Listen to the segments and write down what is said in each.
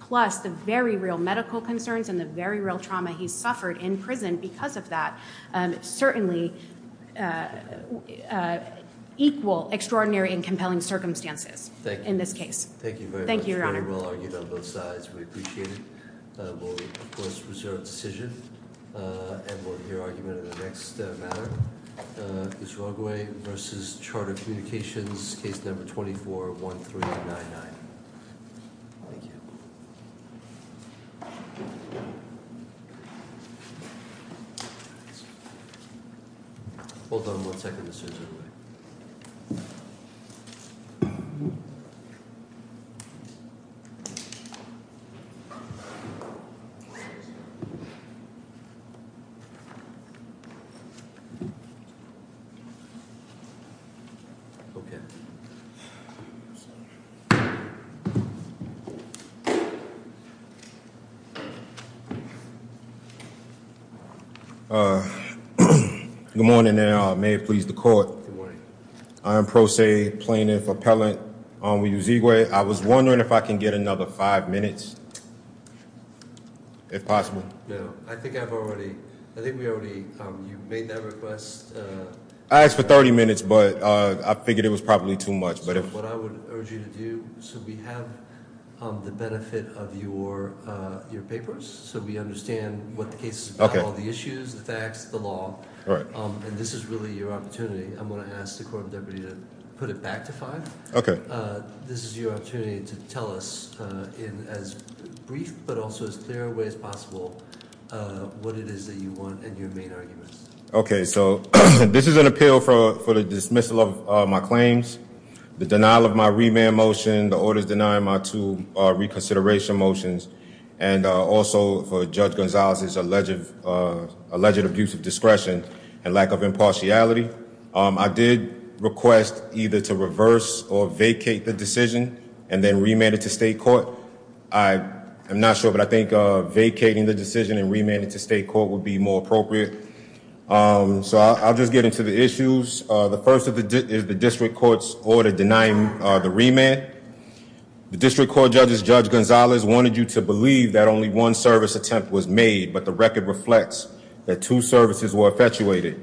plus the very real medical concerns and the very real trauma he suffered in prison because of that certainly equal extraordinary and compelling circumstances in this case. Thank you very much. Very well argued on both sides. We appreciate it. We'll of course reserve the decision and we'll hear argument in the next matter. Uzoigwe v. Charter Communications, case number 241399. Thank you. Hold on one second, Mr. Uzoigwe. Okay. Good morning and may it please the court. Good morning. I am Pro Se Plaintiff Appellant with Uzoigwe. I was wondering if I can get another five minutes, if possible. No, I think I've already, I think we already, you made that request. I asked for 30 minutes, but I figured it was probably too much. So what I would urge you to do, so we have the benefit of your papers. So we understand what the case is about, all the issues, the facts, the law. And this is really your opportunity. I'm going to ask the court of deputy to put it back to five. Okay. This is your opportunity to tell us in as brief, but also as clear a way as possible, what it is that you want and your main arguments. Okay. So this is an appeal for the dismissal of my claims. The denial of my remand motion, the orders denying my two reconsideration motions, and also for Judge Gonzalez's alleged abuse of discretion and lack of impartiality. I did request either to reverse or vacate the decision and then remand it to state court. I am not sure, but I think vacating the decision and remand it to state court would be more appropriate. So I'll just get into the issues. The first is the district court's order denying the remand. The district court judges, Judge Gonzalez, wanted you to believe that only one service attempt was made, but the record reflects that two services were effectuated.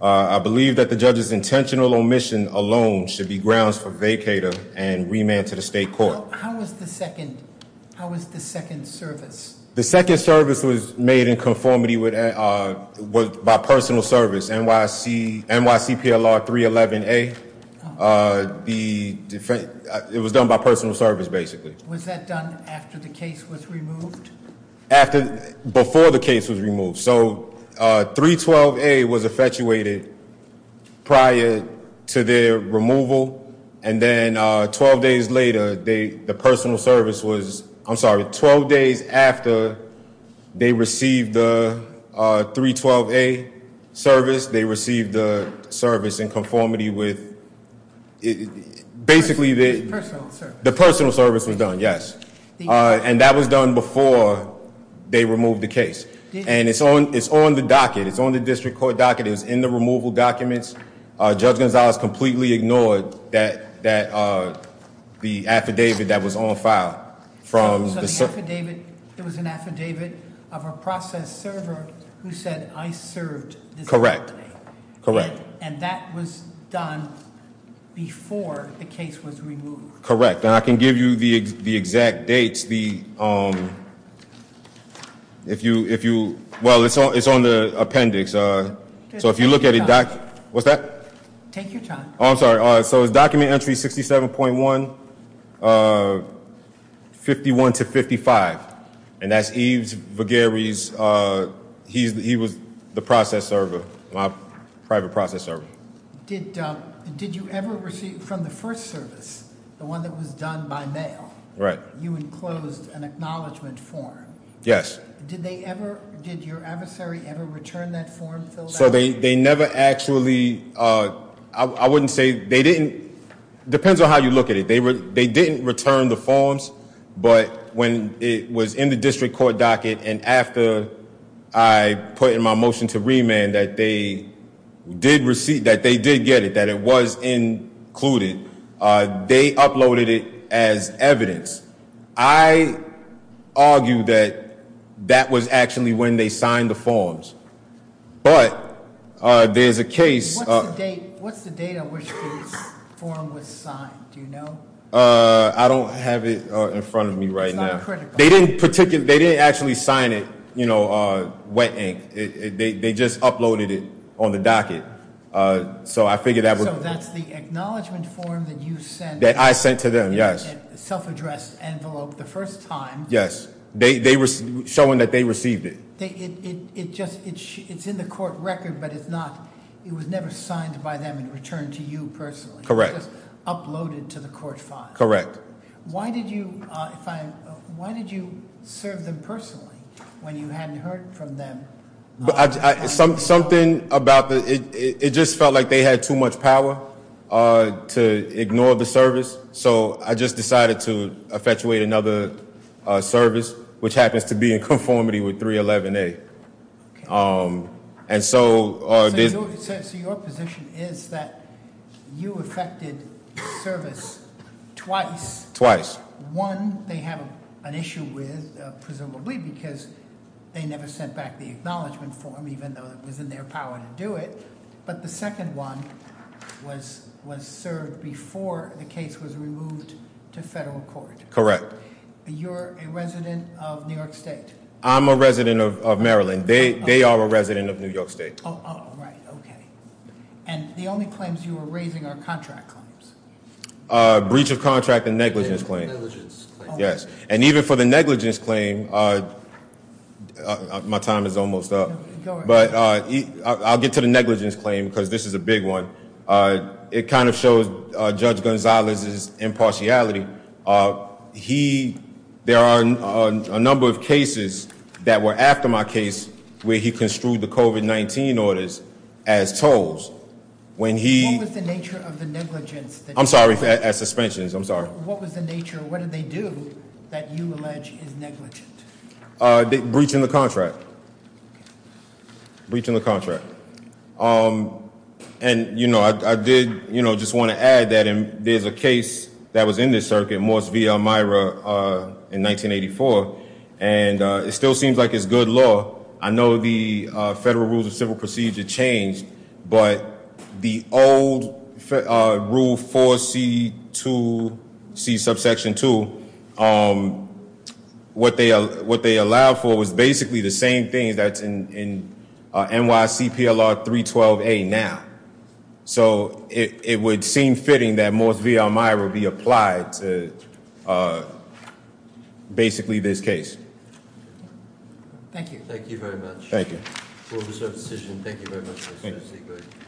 I believe that the judge's intentional omission alone should be grounds for vacater and remand to the state court. How was the second service? The second service was made in conformity by personal service, NYCPLR 311A. It was done by personal service, basically. Was that done after the case was removed? Before the case was removed. So 312A was effectuated prior to their removal, and then 12 days later, the personal service was, I'm sorry, 12 days after they received the 312A service, they received the service in conformity with, basically- Personal service. The personal service was done, yes. And that was done before they removed the case. And it's on the docket. It's on the district court docket. It was in the removal documents. Judge Gonzalez completely ignored the affidavit that was on file from the- So the affidavit, it was an affidavit of a process server who said, I served this company. Correct, correct. And that was done before the case was removed. Correct, and I can give you the exact dates. It's the, if you, well, it's on the appendix. So if you look at it doc, what's that? Take your time. I'm sorry. So it's document entry 67.1, 51 to 55. And that's Eve Viguerie's, he was the process server, my private process server. Did you ever receive from the first service, the one that was done by mail? Right. You enclosed an acknowledgment form. Yes. Did they ever, did your adversary ever return that form filled out? So they never actually, I wouldn't say, they didn't, depends on how you look at it. They didn't return the forms, but when it was in the district court docket, and after I put in my motion to remand that they did get it, that it was included, they uploaded it as evidence. I argue that that was actually when they signed the forms. But there's a case- What's the date on which this form was signed? Do you know? I don't have it in front of me right now. It's not critical. They didn't actually sign it, you know, wet ink. They just uploaded it on the docket. So I figure that would- So that's the acknowledgment form that you sent- That I sent to them, yes. In a self-addressed envelope the first time. Yes. Showing that they received it. It's in the court record, but it's not, it was never signed by them and returned to you personally. Correct. It was just uploaded to the court file. Correct. Why did you serve them personally when you hadn't heard from them? Something about the, it just felt like they had too much power to ignore the service. So I just decided to effectuate another service, which happens to be in conformity with 311A. And so- So your position is that you effected service twice. Twice. Twice. One, they have an issue with, presumably, because they never sent back the acknowledgment form, even though it was in their power to do it. But the second one was served before the case was removed to federal court. Correct. You're a resident of New York State. I'm a resident of Maryland. They are a resident of New York State. Right, okay. And the only claims you were raising are contract claims. Breach of contract and negligence claim. Negligence claim. Yes. And even for the negligence claim, my time is almost up, but I'll get to the negligence claim because this is a big one. It kind of shows Judge Gonzalez's impartiality. He, there are a number of cases that were after my case where he construed the COVID-19 orders as tolls. When he- What was the nature of the negligence? I'm sorry, as suspensions, I'm sorry. What was the nature, what did they do that you allege is negligent? Breaching the contract. Breaching the contract. And I did just want to add that there's a case that was in this circuit, Morse v. Elmira, in 1984. And it still seems like it's good law. I know the federal rules of civil procedure changed, but the old rule 4C2, C subsection 2, what they allowed for was basically the same thing that's in NYC PLR 312A now. So it would seem fitting that Morse v. Elmira be applied to basically this case. Thank you. Thank you very much. Thank you. Court is over decision. Thank you very much. Thank you.